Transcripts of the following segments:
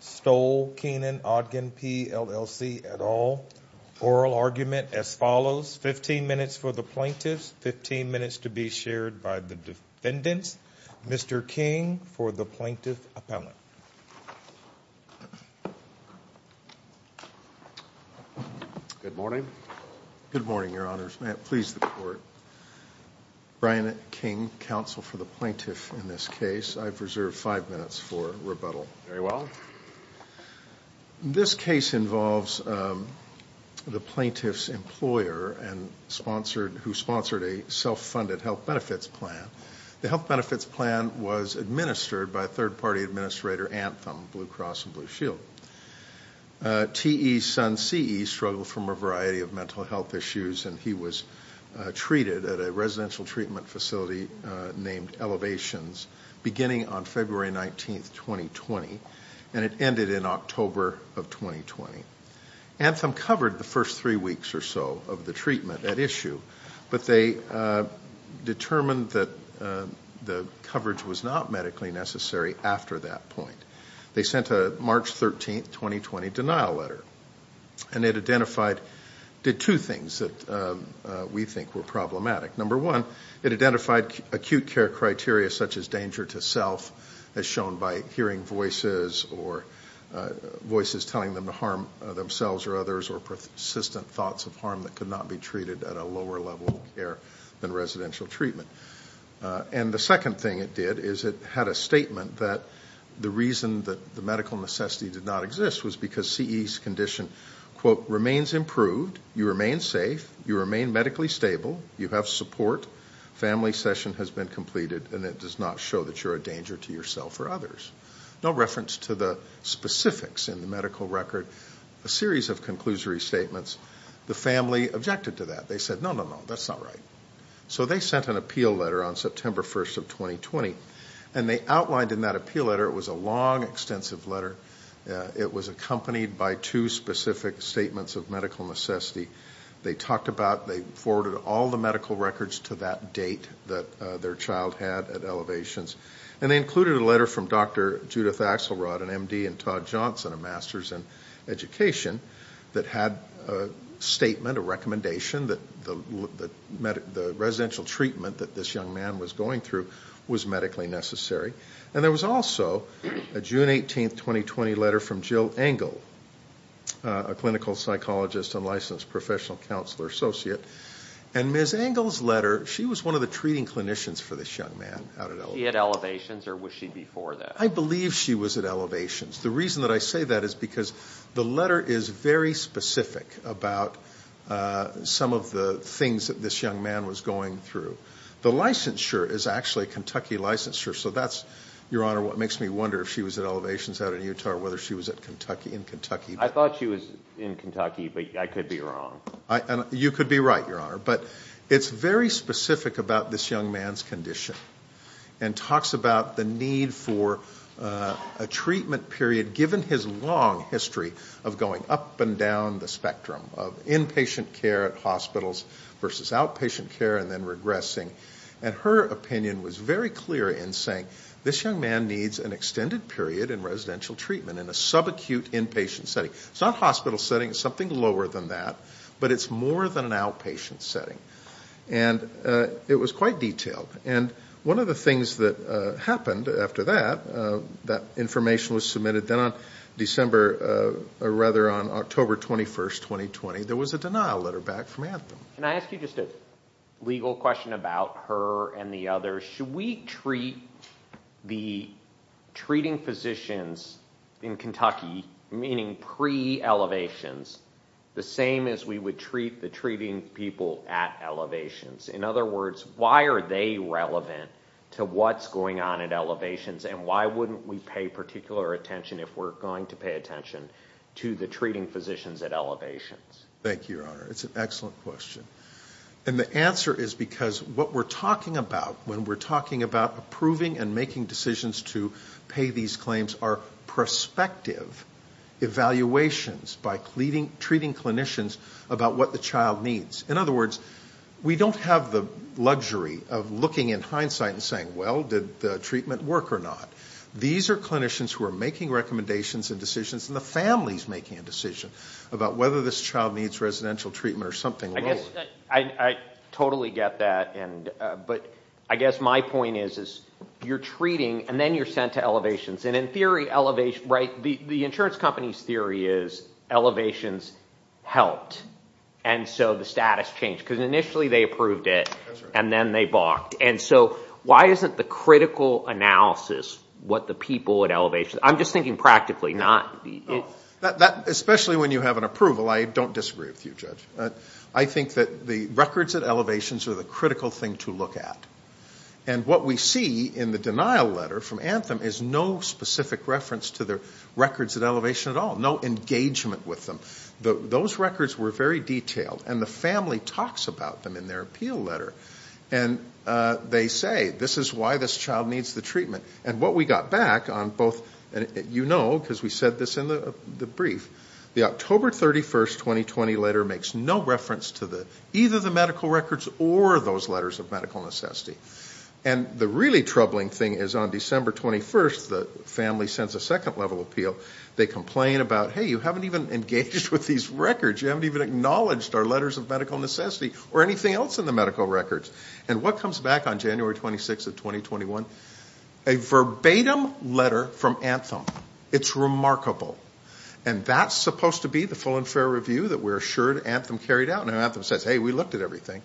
Stoll, Kenan, Odgen, P, LLC, et al. Oral argument as follows. 15 minutes for the plaintiffs, 15 minutes to be shared by the defendants. Mr. King for the plaintiff appellant. Good morning. Good morning, your honors. May it please the court. Brian King, counsel for the plaintiff in this case. I've reserved five minutes for rebuttal. Very well. This case involves the plaintiff's employer who sponsored a self-funded health benefits plan. The health benefits plan was administered by third party administrator Anthem Blue Cross Blue Shield. T E's son C E struggled from a variety of mental health issues and he was treated at a residential treatment facility named Elevations beginning on February 19, 2020, and it ended in October of 2020. Anthem covered the first three weeks or so of the treatment at issue, but they determined that the coverage was not medically necessary after that point. They sent a March 13, 2020, denial letter. And it identified, did two things that we think were problematic. Number one, it identified acute care criteria such as danger to self as shown by hearing voices or voices telling them to harm themselves or others or persistent thoughts of harm that could not be treated at a lower level of care than residential treatment. And the second thing it did is it had a statement that the reason that the medical necessity did not exist was because C E's condition, quote, remains improved, you remain safe, you remain medically stable, you have support, family session has been completed, and it does not show that you're a danger to yourself or others. No reference to the specifics in the medical record. A series of conclusory statements. The family objected to that. They said, no, no, no, that's not right. So they sent an appeal letter on September 1, 2020, and they outlined in that appeal letter, it was a long, extensive letter. It was accompanied by two specific statements of medical necessity. They talked about, they forwarded all the medical records to that date that their child had at elevations. And they included a letter from Dr. Judith Axelrod, an MD and Todd Johnson, a master's in education, that had a statement, a recommendation that the residential treatment that this young man was going through was medically necessary. And there was also a June 18, 2020, letter from Jill Engel, a clinical psychologist and licensed professional counselor associate. And Ms. Engel's letter, she was one of the treating clinicians for this young man out at elevations. I believe she was at elevations. The reason that I say that is because the letter is very specific about some of the things that this young man was going through. The licensure is actually a Kentucky licensure. So that's, Your Honor, what makes me wonder if she was at elevations out in Utah or whether she was in Kentucky. I thought she was in Kentucky, but I could be wrong. You could be right, Your Honor. But it's very specific about this young man's condition and talks about the need for a treatment period given his long history of going up and down the spectrum of inpatient care at hospitals versus outpatient care and then regressing. And her opinion was very clear in saying this young man needs an extended period in residential treatment in a subacute inpatient setting. It's not a hospital setting. It's something lower than that. But it's more than an outpatient setting. And it was quite detailed. And one of the things that happened after that, that information was submitted. Then on December, or rather on October 21, 2020, there was a denial letter back from Anthem. Can I ask you just a legal question about her and the others? Should we treat the treating physicians in Kentucky, meaning pre-elevations, the same as we would treat the treating people at elevations? In other words, why are they relevant to what's going on at elevations? And why wouldn't we pay particular attention, if we're going to pay attention, to the treating physicians at elevations? Thank you, Your Honor. It's an excellent question. And the answer is because what we're talking about when we're talking about approving and making decisions to pay these claims are prospective evaluations by treating clinicians about what the child needs. In other words, we don't have the luxury of looking in hindsight and saying, well, did the treatment work or not? These are clinicians who are making recommendations and decisions, and the family's making a decision about whether this child needs residential treatment or something lower. I totally get that. But I guess my point is you're treating, and then you're sent to elevations. And in theory, the insurance company's theory is elevations helped, and so the status changed. Because initially they approved it, and then they balked. And so why isn't the critical analysis what the people at elevations... I'm just thinking practically, not... Especially when you have an approval, I don't disagree with you, Judge. I think that the records at elevations are the critical thing to look at. And what we see in the denial letter from Anthem is no specific reference to the records at elevation at all. No engagement with them. Those records were very detailed. And the family talks about them in their appeal letter. And they say, this is why this child needs the treatment. And what we got back on both... You know, because we said this in the brief. The October 31st, 2020 letter makes no reference to either the medical records or those letters of medical necessity. And the really troubling thing is on December 21st, the family sends a second level appeal. They complain about, hey, you haven't even engaged with these records. You haven't even acknowledged our letters of medical necessity or anything else in the medical records. And what comes back on January 26th of 2021? A verbatim letter from Anthem. It's remarkable. And that's supposed to be the full and fair review that we're assured Anthem carried out. And Anthem says, hey, we looked at everything.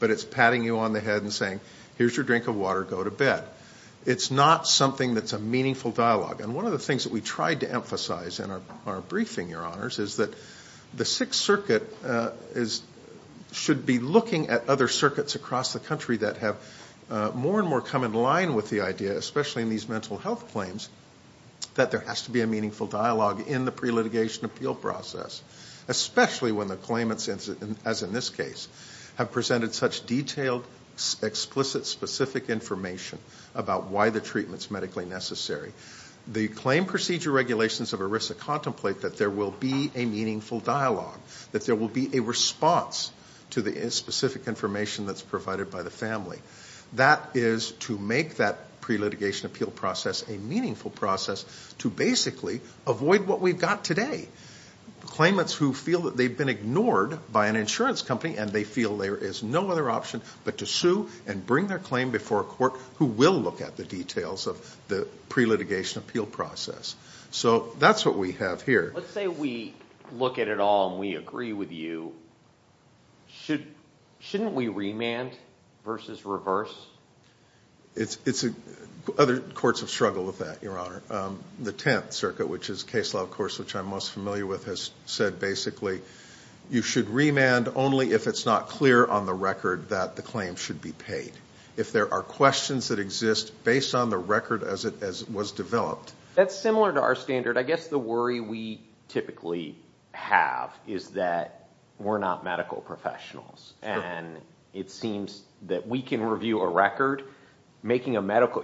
But it's patting you on the head and saying, here's your drink of water. Go to bed. But it's not something that's a meaningful dialogue. And one of the things that we tried to emphasize in our briefing, Your Honors, is that the Sixth Circuit should be looking at other circuits across the country that have more and more come in line with the idea, especially in these mental health claims, that there has to be a meaningful dialogue in the pre-litigation appeal process. Especially when the claimants, as in this case, have presented such detailed, explicit, specific information about why the treatment's medically necessary. The claim procedure regulations of ERISA contemplate that there will be a meaningful dialogue, that there will be a response to the specific information that's provided by the family. That is to make that pre-litigation appeal process a meaningful process to basically avoid what we've got today. Claimants who feel that they've been ignored by an insurance company and they feel there is no other option but to sue and bring their claim before a court who will look at the details of the pre-litigation appeal process. So that's what we have here. Let's say we look at it all and we agree with you. Shouldn't we remand versus reverse? Other courts have struggled with that, Your Honor. The Tenth Circuit, which is Case Law, of course, which I'm most familiar with, has said basically you should remand only if it's not clear on the record that the claim should be paid. If there are questions that exist based on the record as it was developed. That's similar to our standard. I guess the worry we typically have is that we're not medical professionals. And it seems that we can review a record.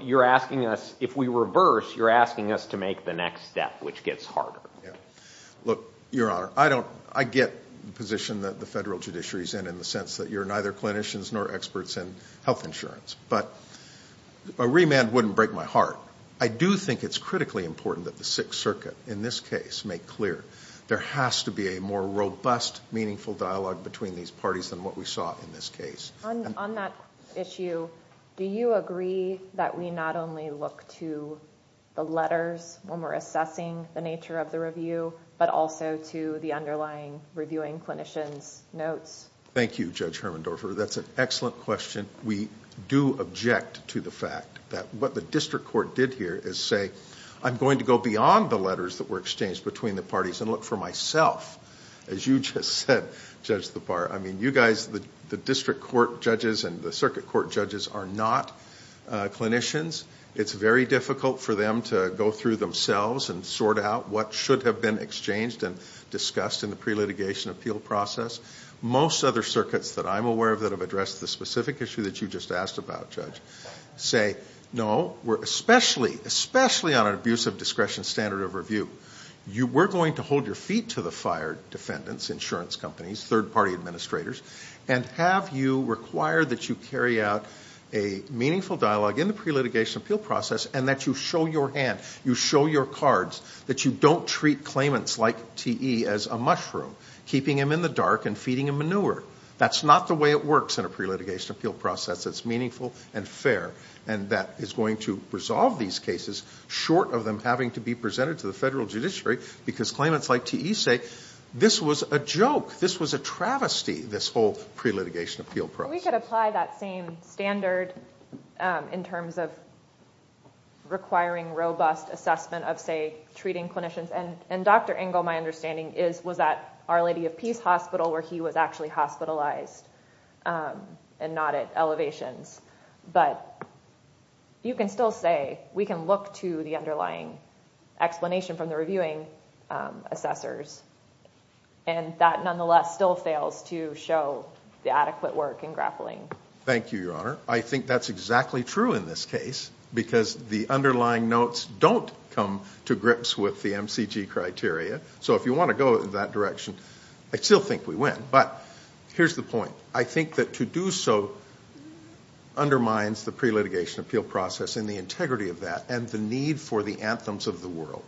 You're asking us, if we reverse, you're asking us to make the next step, which gets harder. Look, Your Honor, I get the position that the federal judiciary is in, in the sense that you're neither clinicians nor experts in health insurance. But a remand wouldn't break my heart. I do think it's critically important that the Sixth Circuit, in this case, make clear there has to be a more robust, meaningful dialogue between these parties than what we saw in this case. On that issue, do you agree that we not only look to the letters when we're assessing the nature of the review, but also to the underlying reviewing clinicians' notes? Thank you, Judge Hermendorfer. That's an excellent question. We do object to the fact that what the district court did here is say, I'm going to go beyond the letters that were exchanged between the parties and look for myself. As you just said, Judge Thabar, I mean, you guys, the district court judges and the circuit court judges are not clinicians. It's very difficult for them to go through themselves and sort out what should have been exchanged and discussed in the pre-litigation appeal process. Most other circuits that I'm aware of that have addressed the specific issue that you just asked about, Judge, say, no, especially on an abuse of discretion standard of review, we're going to hold your feet to the fire defendants, insurance companies, third-party administrators, and have you require that you carry out a meaningful dialogue in the pre-litigation appeal process and that you show your hand, you show your cards, that you don't treat claimants like T.E. as a mushroom, keeping him in the dark and feeding him manure. That's not the way it works in a pre-litigation appeal process. It's meaningful and fair and that is going to resolve these cases short of them having to be presented to the federal judiciary because claimants like T.E. say, this was a joke, this was a travesty, this whole pre-litigation appeal process. We could apply that same standard in terms of requiring robust assessment of, say, treating clinicians. And Dr. Engel, my understanding, was at Our Lady of Peace Hospital where he was actually hospitalized and not at elevations. But you can still say we can look to the underlying explanation from the reviewing assessors and that nonetheless still fails to show the adequate work in grappling. Thank you, Your Honor. I think that's exactly true in this case because the underlying notes don't come to grips with the MCG criteria. So if you want to go in that direction, I still think we win. But here's the point. I think that to do so undermines the pre-litigation appeal process and the integrity of that and the need for the anthems of the world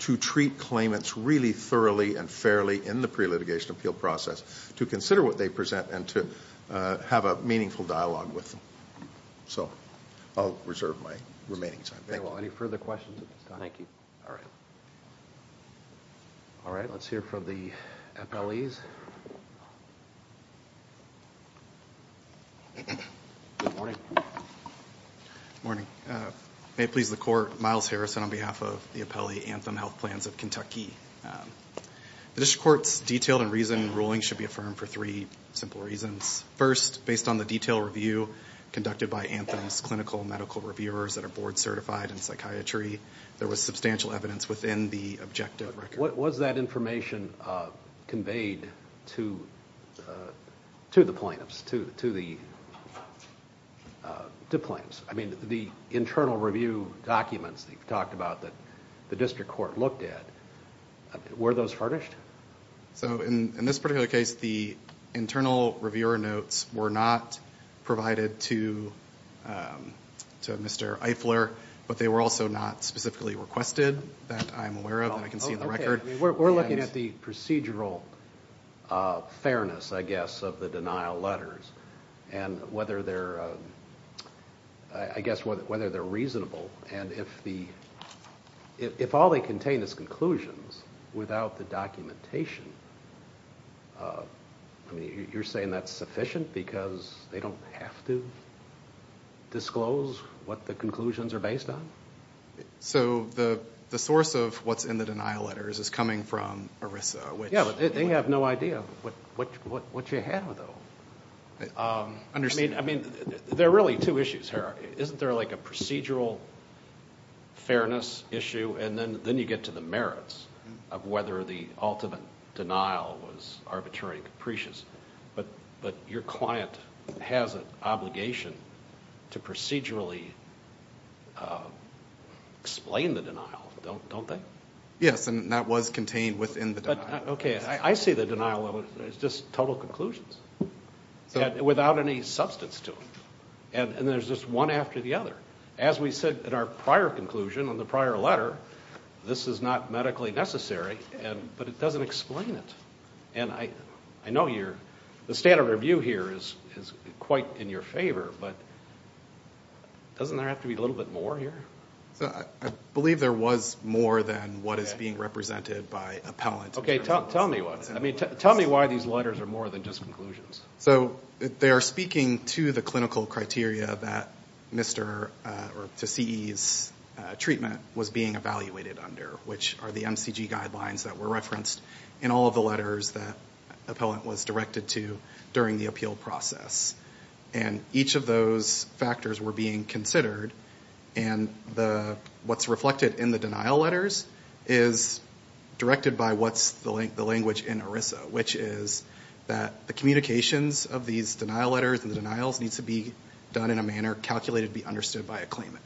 to treat claimants really thoroughly and fairly in the pre-litigation appeal process to consider what they present and to have a meaningful dialogue with them. So I'll reserve my remaining time. Thank you. May it please the Court, Myles Harrison on behalf of the Appellee Anthem Health Plans of Kentucky. The district court's detailed and reasoned ruling should be affirmed for three simple reasons. First, based on the detailed review conducted by Anthem's clinical medical reviewers that are board certified in psychiatry, there was substantial evidence within the objective record. What was that information conveyed to the plaintiffs? I mean the internal review documents that you've talked about that the district court looked at, were those furnished? So in this particular case, the internal reviewer notes were not provided to Mr. Eifler, but they were also not specifically requested that I'm aware of, that I can see in the record. We're looking at the procedural fairness, I guess, of the denial letters and whether they're reasonable and if all they contain is conclusions without the documentation, you're saying that's sufficient because they don't have to disclose what the conclusions are based on? So the source of what's in the denial letters is coming from ERISA. Yeah, but they have no idea what you're ahead of them. I mean, there are really two issues here. Isn't there like a procedural fairness issue and then you get to the merits of whether the ultimate denial was arbitrary and capricious, but your client has an obligation to procedurally explain the denial, don't they? Yes, and that was contained within the denial. Okay, I see the denial. It's just total conclusions without any substance to them and there's just one after the other. As we said in our prior conclusion on the prior letter, this is not medically necessary, but it doesn't explain it. And I know the standard review here is quite in your favor, but doesn't there have to be a little bit more here? I believe there was more than what is being represented by appellant. Okay, tell me why these letters are more than just conclusions. So they are speaking to the clinical criteria that CE's treatment was being evaluated under, which are the MCG guidelines that were referenced in all of the letters that appellant was directed to during the appeal process. And each of those factors were being considered and what's reflected in the denial letters is directed by what's the language in ERISA, which is that the communications of these denial letters and the denials needs to be done in a manner calculated to be understood by a claimant.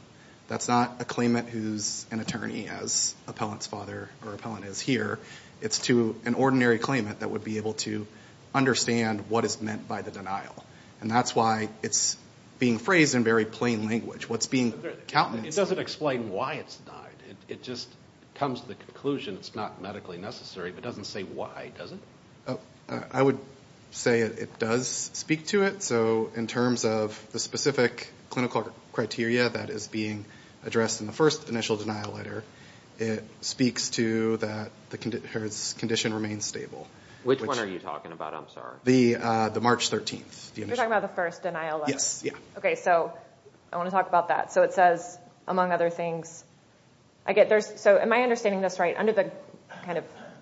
That's not a claimant who's an attorney as appellant's father or appellant is here. It's to an ordinary claimant that would be able to understand what is meant by the denial. And that's why it's being phrased in very plain language. It doesn't explain why it's denied. It just comes to the conclusion it's not medically necessary, but it doesn't say why, does it? I would say it does speak to it. So in terms of the specific clinical criteria that is being addressed in the first initial denial letter, it speaks to that the condition remains stable. Which one are you talking about? I'm sorry. The March 13th. You're talking about the first denial letter? Yes. I want to talk about that. It says, among other things, am I understanding this right, under the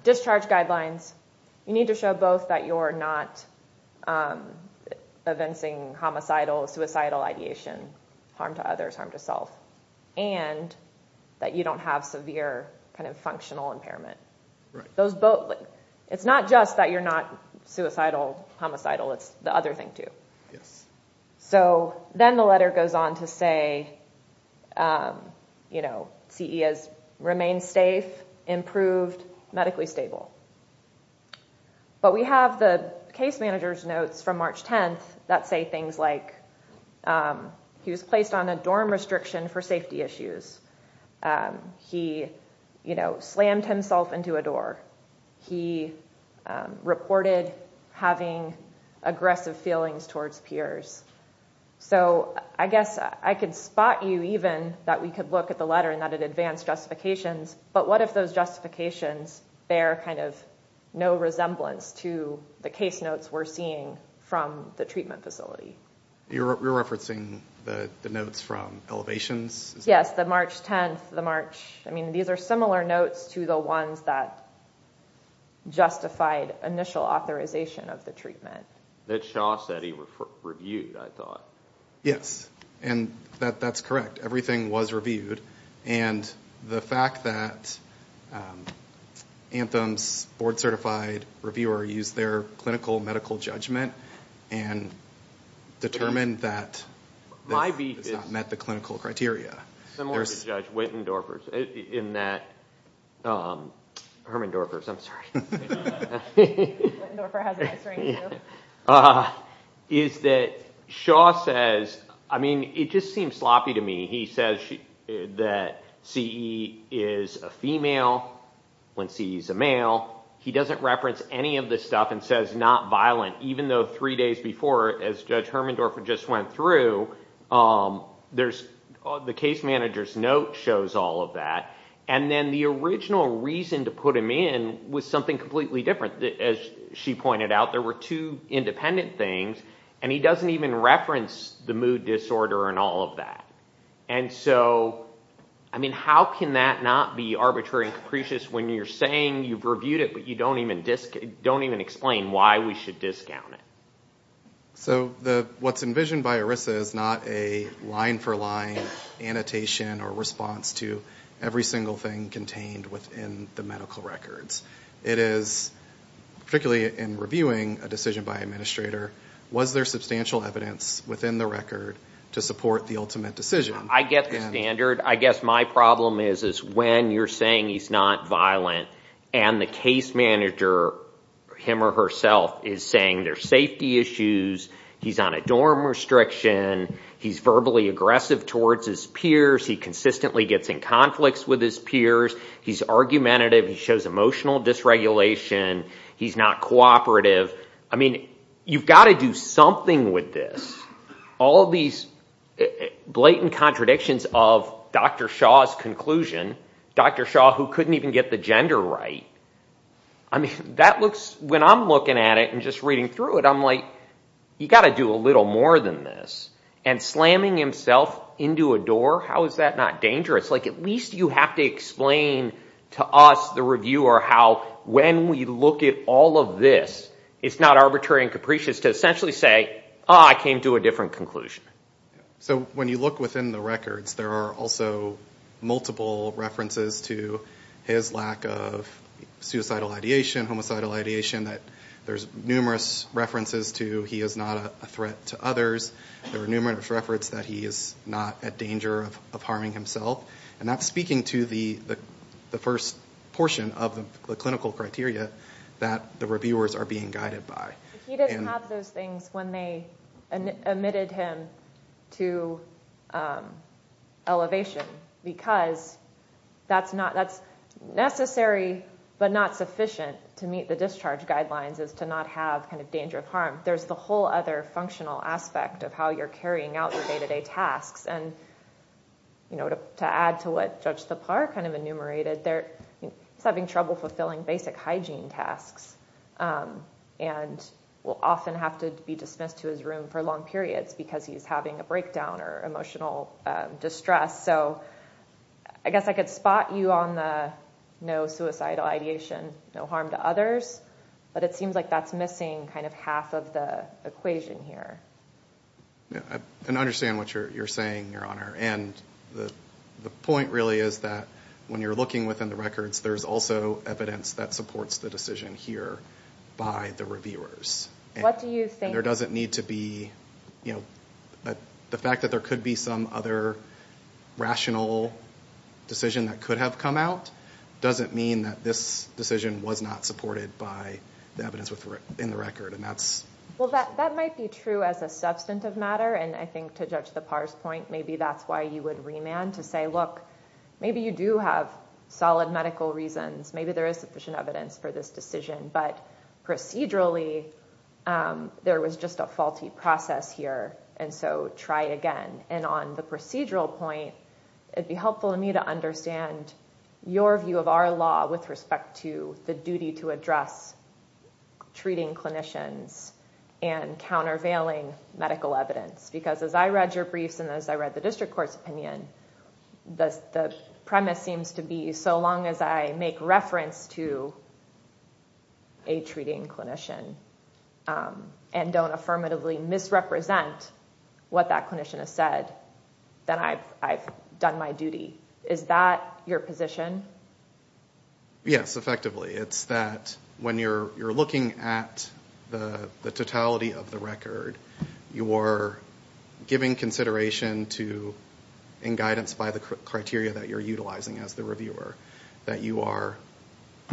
discharge guidelines, you need to show both that you're not evincing homicidal, suicidal ideation, harm to others, harm to self, and that you don't have severe functional impairment. It's not just that you're not suicidal, homicidal, it's the other thing too. Yes. So then the letter goes on to say CE has remained safe, improved, medically stable. But we have the case manager's notes from March 10th that say things like he was placed on a dorm restriction for safety issues. He slammed himself into a door. He reported having aggressive feelings towards peers. So I guess I could spot you even that we could look at the letter and that it advanced justifications, but what if those justifications bear kind of no resemblance to the case notes we're seeing from the treatment facility? You're referencing the notes from elevations? Yes, the March 10th. These are similar notes to the ones that justified initial authorization of the treatment. That Shaw said he reviewed, I thought. Yes, and that's correct. Everything was reviewed. And the fact that Anthem's board-certified reviewer used their clinical medical judgment and determined that this has not met the clinical criteria. Similar to Judge Wittendorfer's in that, Herman Dorfer's, I'm sorry. Wittendorfer has a nice ring to it. Is that Shaw says, I mean, it just seems sloppy to me. He says that CE is a female when CE is a male. He doesn't reference any of this stuff and says not violent, even though three days before, as Judge Hermendorfer just went through, the case manager's note shows all of that. And then the original reason to put him in was something completely different. As she pointed out, there were two independent things, and he doesn't even reference the mood disorder and all of that. And so, I mean, how can that not be arbitrary and capricious when you're saying you've reviewed it, but you don't even explain why we should discount it? So what's envisioned by ERISA is not a line-for-line annotation or response to every single thing contained within the medical records. It is, particularly in reviewing a decision by an administrator, was there substantial evidence within the record to support the ultimate decision? I get the standard. I guess my problem is when you're saying he's not violent and the case manager, him or herself, is saying there's safety issues, he's on a dorm restriction, he's verbally aggressive towards his peers, he consistently gets in conflicts with his peers, he's argumentative, he shows emotional dysregulation, he's not cooperative. I mean, you've got to do something with this. All of these blatant contradictions of Dr. Shaw's conclusion, Dr. Shaw who couldn't even get the gender right, I mean, when I'm looking at it and just reading through it, I'm like, you've got to do a little more than this. And slamming himself into a door, how is that not dangerous? Like, at least you have to explain to us, the reviewer, how when we look at all of this, it's not arbitrary and capricious to essentially say, oh, I came to a different conclusion. So when you look within the records, there are also multiple references to his lack of suicidal ideation, homicidal ideation, that there's numerous references to he is not a threat to others. There are numerous references that he is not at danger of harming himself. And that's speaking to the first portion of the clinical criteria that the reviewers are being guided by. He didn't have those things when they admitted him to elevation, because that's necessary but not sufficient to meet the discharge guidelines is to not have kind of danger of harm. There's the whole other functional aspect of how you're carrying out your day-to-day tasks. And to add to what Judge Tappar kind of enumerated, he's having trouble fulfilling basic hygiene tasks. And will often have to be dismissed to his room for long periods because he's having a breakdown or emotional distress. So I guess I could spot you on the no suicidal ideation, no harm to others. But it seems like that's missing kind of half of the equation here. And I understand what you're saying, Your Honor. And the point really is that when you're looking within the records, there's also evidence that supports the decision here by the reviewers. And there doesn't need to be, you know, the fact that there could be some other rational decision that could have come out doesn't mean that this decision was not supported by the evidence in the record. Well, that might be true as a substantive matter. And I think to Judge Tappar's point, maybe that's why you would remand to say, look, maybe you do have solid medical reasons. Maybe there is sufficient evidence for this decision. But procedurally, there was just a faulty process here. And so try again. And on the procedural point, it would be helpful to me to understand your view of our law with respect to the duty to address treating clinicians and countervailing medical evidence. Because as I read your briefs and as I read the district court's opinion, the premise seems to be so long as I make reference to a treating clinician and don't affirmatively misrepresent what that clinician has said, then I've done my duty. Is that your position? Yes, effectively. It's that when you're looking at the totality of the record, you are giving consideration to, in guidance by the criteria that you're utilizing as the reviewer, that you are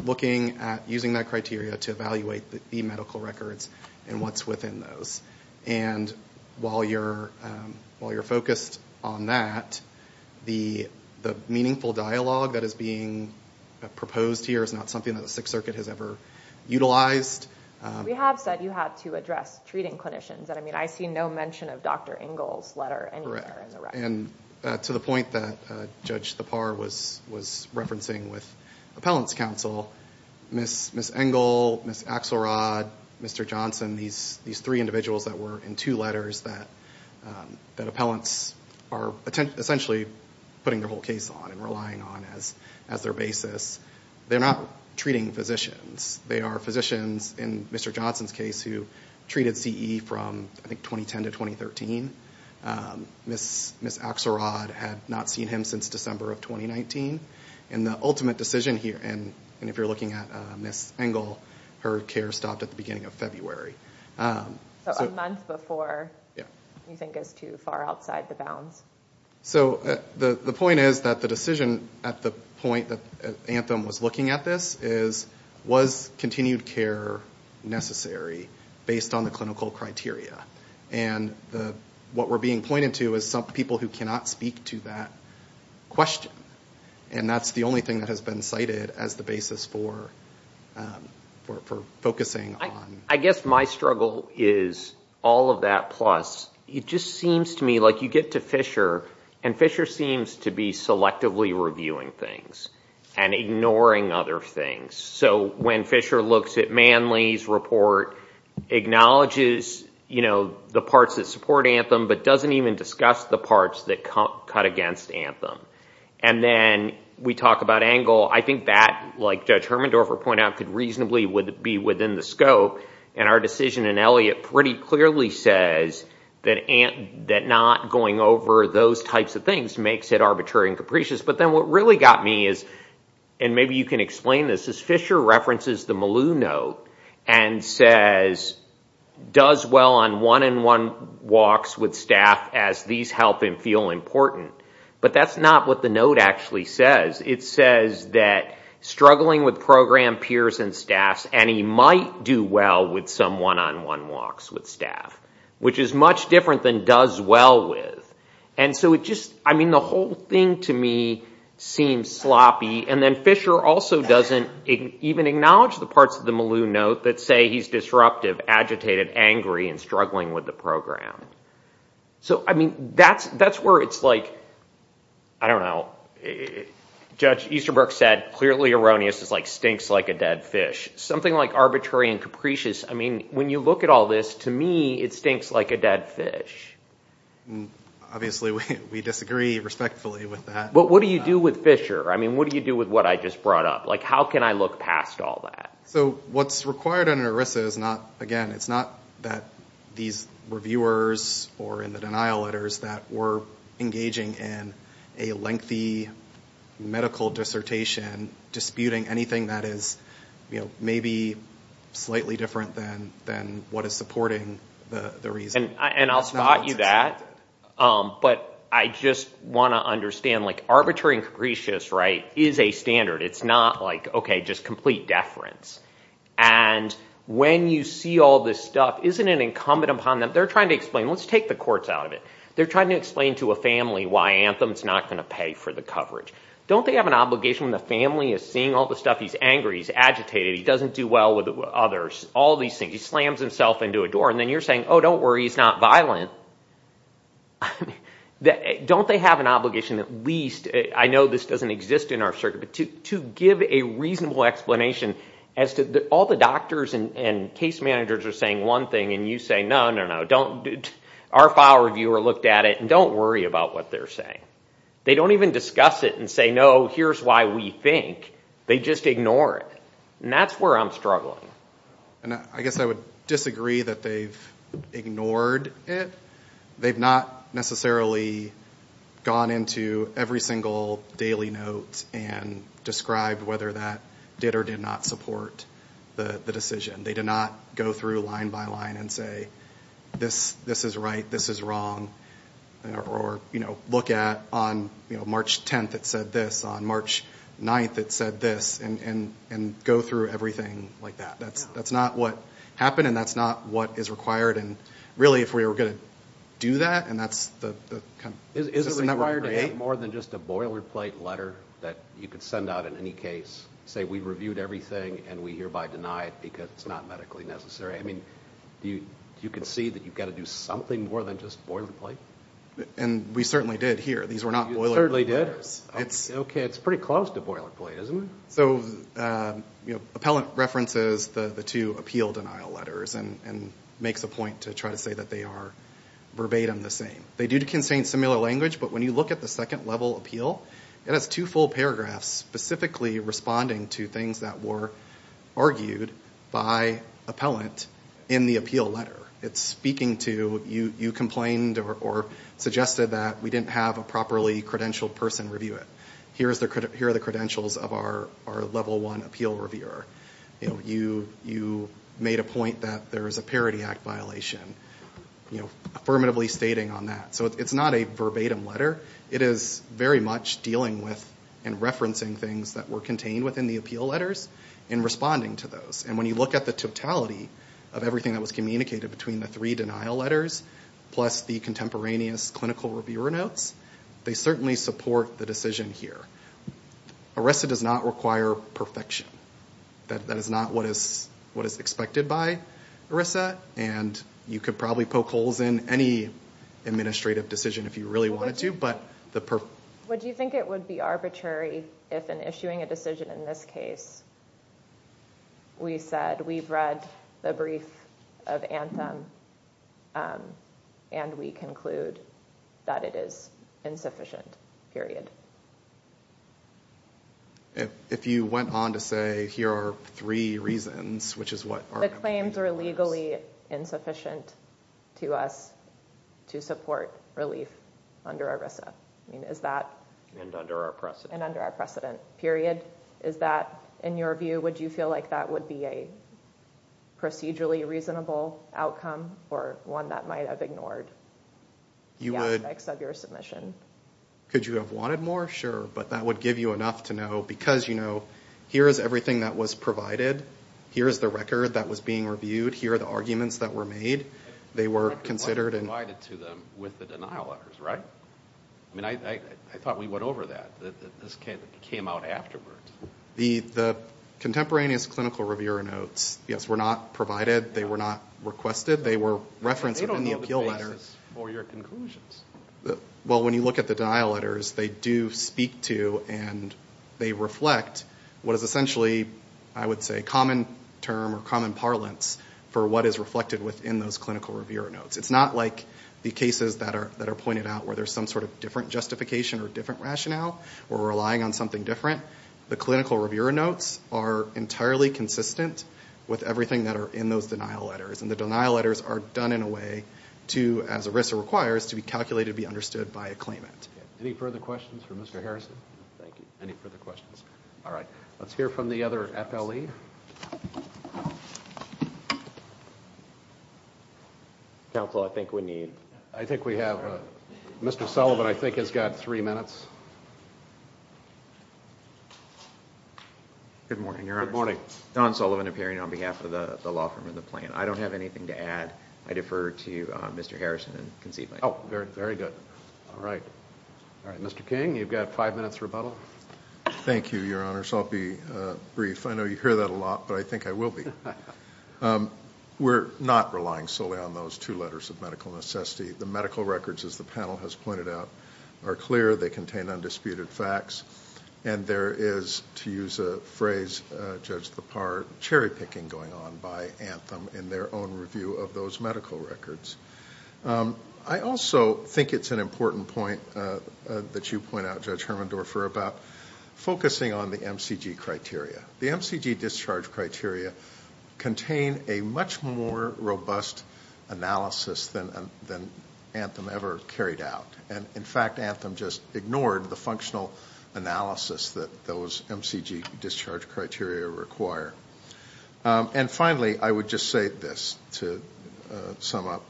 looking at using that criteria to evaluate the medical records and what's within those. And while you're focused on that, the meaningful dialogue that is being proposed here is not something that the Sixth Circuit has ever utilized. We have said you have to address treating clinicians. I mean, I see no mention of Dr. Engel's letter anywhere in the record. And to the point that Judge Thapar was referencing with appellant's counsel, Ms. Engel, Ms. Axelrod, Mr. Johnson, these three individuals that were in two letters that appellants are essentially putting their whole case on and relying on as their basis, they're not treating physicians. They are physicians, in Mr. Johnson's case, who treated CE from, I think, 2010 to 2013. Ms. Axelrod had not seen him since December of 2019. And the ultimate decision here, and if you're looking at Ms. Engel, her care stopped at the beginning of February. So a month before you think is too far outside the bounds. So the point is that the decision at the point that Anthem was looking at this is, was continued care necessary based on the clinical criteria? And what we're being pointed to is some people who cannot speak to that question. And that's the only thing that has been cited as the basis for focusing on. I guess my struggle is all of that plus, it just seems to me like you get to Fisher, and Fisher seems to be selectively reviewing things and ignoring other things. So when Fisher looks at Manley's report, acknowledges the parts that support Anthem, but doesn't even discuss the parts that cut against Anthem. And then we talk about Engel. I think that, like Judge Hermendorfer pointed out, could reasonably be within the scope. And our decision in Elliott pretty clearly says that not going over those types of things makes it arbitrary and capricious. But then what really got me is, and maybe you can explain this, is Fisher references the Malou note and says, does well on one-on-one walks with staff as these help him feel important. But that's not what the note actually says. It says that struggling with program peers and staffs, and he might do well with some one-on-one walks with staff, which is much different than does well with. And so it just, I mean, the whole thing to me seems sloppy. And then Fisher also doesn't even acknowledge the parts of the Malou note that say he's disruptive, agitated, angry, and struggling with the program. So, I mean, that's where it's like, I don't know, Judge Easterbrook said clearly erroneous is like stinks like a dead fish. Something like arbitrary and capricious, I mean, when you look at all this, to me it stinks like a dead fish. Obviously we disagree respectfully with that. But what do you do with Fisher? I mean, what do you do with what I just brought up? Like how can I look past all that? So what's required in an ERISA is not, again, it's not that these reviewers or in the denial letters that we're engaging in a lengthy medical dissertation disputing anything that is, you know, maybe slightly different than what is supporting the reason. And I'll spot you that. But I just want to understand like arbitrary and capricious, right, is a standard. It's not like, okay, just complete deference. And when you see all this stuff, isn't it incumbent upon them? They're trying to explain. Let's take the courts out of it. They're trying to explain to a family why Anthem is not going to pay for the coverage. Don't they have an obligation when the family is seeing all the stuff? He's angry, he's agitated, he doesn't do well with others, all these things. He slams himself into a door. And then you're saying, oh, don't worry, he's not violent. Don't they have an obligation at least, I know this doesn't exist in our circuit, but to give a reasonable explanation as to all the doctors and case managers are saying one thing and you say, no, no, no, don't, our file reviewer looked at it and don't worry about what they're saying. They don't even discuss it and say, no, here's why we think. They just ignore it. And that's where I'm struggling. I guess I would disagree that they've ignored it. They've not necessarily gone into every single daily note and described whether that did or did not support the decision. They did not go through line by line and say, this is right, this is wrong, or look at on March 10th it said this, on March 9th it said this, and go through everything like that. That's not what happened and that's not what is required. And really if we were going to do that and that's the kind of system that we create. Is it required to have more than just a boilerplate letter that you could send out in any case, say we reviewed everything and we hereby deny it because it's not medically necessary? I mean, do you concede that you've got to do something more than just boilerplate? And we certainly did here. These were not boilerplate letters. You certainly did? Okay, it's pretty close to boilerplate, isn't it? So Appellant references the two appeal denial letters and makes a point to try to say that they are verbatim the same. They do contain similar language, but when you look at the second level appeal, it has two full paragraphs specifically responding to things that were argued by Appellant in the appeal letter. It's speaking to you complained or suggested that we didn't have a properly credentialed person review it. Here are the credentials of our level one appeal reviewer. You made a point that there is a Parity Act violation. Affirmatively stating on that. So it's not a verbatim letter. It is very much dealing with and referencing things that were contained within the appeal letters and responding to those. And when you look at the totality of everything that was communicated between the three denial letters plus the contemporaneous clinical reviewer notes, they certainly support the decision here. ERISA does not require perfection. That is not what is expected by ERISA, and you could probably poke holes in any administrative decision if you really wanted to. Would you think it would be arbitrary if in issuing a decision in this case, we said we've read the brief of Anthem and we conclude that it is insufficient, period? If you went on to say here are three reasons, which is what our opinion was. The reasons are legally insufficient to us to support relief under ERISA. Is that under our precedent, period? Is that, in your view, would you feel like that would be a procedurally reasonable outcome or one that might have ignored the aspects of your submission? Could you have wanted more? Sure. But that would give you enough to know because, you know, here is everything that was provided. Here is the record that was being reviewed. Here are the arguments that were made. They were considered and provided to them with the denial letters, right? I mean, I thought we went over that. This came out afterwards. The contemporaneous clinical reviewer notes, yes, were not provided. They were not requested. They were referenced in the appeal letter. They don't know the basis for your conclusions. Well, when you look at the denial letters, they do speak to and they reflect what is essentially, I would say, common term or common parlance for what is reflected within those clinical reviewer notes. It's not like the cases that are pointed out where there's some sort of different justification or different rationale or relying on something different. The clinical reviewer notes are entirely consistent with everything that are in those denial letters. And the denial letters are done in a way to, as ERISA requires, to be calculated, be understood by a claimant. Any further questions for Mr. Harrison? Thank you. Any further questions? All right. Let's hear from the other FLE. Counsel, I think we need... I think we have... Mr. Sullivan, I think, has got three minutes. Good morning, Your Honor. Good morning. Don Sullivan, appearing on behalf of the law firm and the plaintiff. I don't have anything to add. I defer to Mr. Harrison in concealing. Oh, very good. All right. All right. Mr. King, you've got five minutes rebuttal. Thank you, Your Honors. I'll be brief. I know you hear that a lot, but I think I will be. We're not relying solely on those two letters of medical necessity. The medical records, as the panel has pointed out, are clear. They contain undisputed facts. And there is, to use a phrase judged to the par, cherry-picking going on by Anthem in their own review of those medical records. I also think it's an important point that you point out, Judge Hermendorfer, about focusing on the MCG criteria. The MCG discharge criteria contain a much more robust analysis than Anthem ever carried out. And, in fact, Anthem just ignored the functional analysis that those MCG discharge criteria require. And, finally, I would just say this to sum up.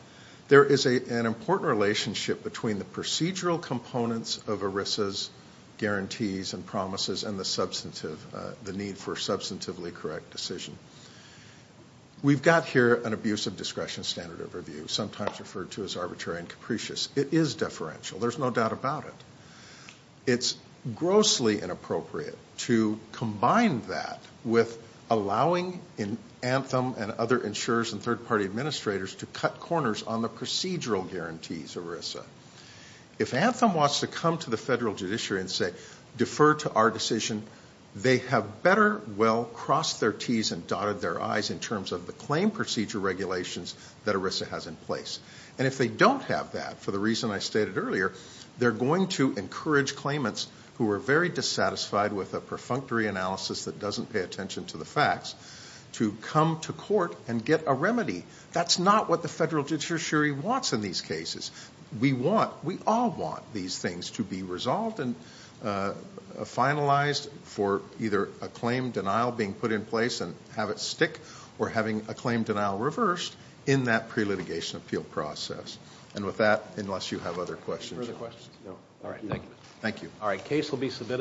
There is an important relationship between the procedural components of ERISA's guarantees and promises and the need for substantively correct decision. We've got here an abusive discretion standard of review, sometimes referred to as arbitrary and capricious. It is deferential. There's no doubt about it. It's grossly inappropriate to combine that with allowing Anthem and other insurers and third-party administrators to cut corners on the procedural guarantees of ERISA. If Anthem wants to come to the federal judiciary and say, defer to our decision, they have better well crossed their Ts and dotted their Is in terms of the claim procedure regulations that ERISA has in place. And if they don't have that, for the reason I stated earlier, they're going to encourage claimants who are very dissatisfied with a perfunctory analysis that doesn't pay attention to the facts to come to court and get a remedy. That's not what the federal judiciary wants in these cases. We all want these things to be resolved and finalized for either a claim denial being put in place and have it stick or having a claim denial reversed in that pre-litigation appeal process. And with that, unless you have other questions. Further questions? No. All right, thank you. Thank you. All right, case will be submitted.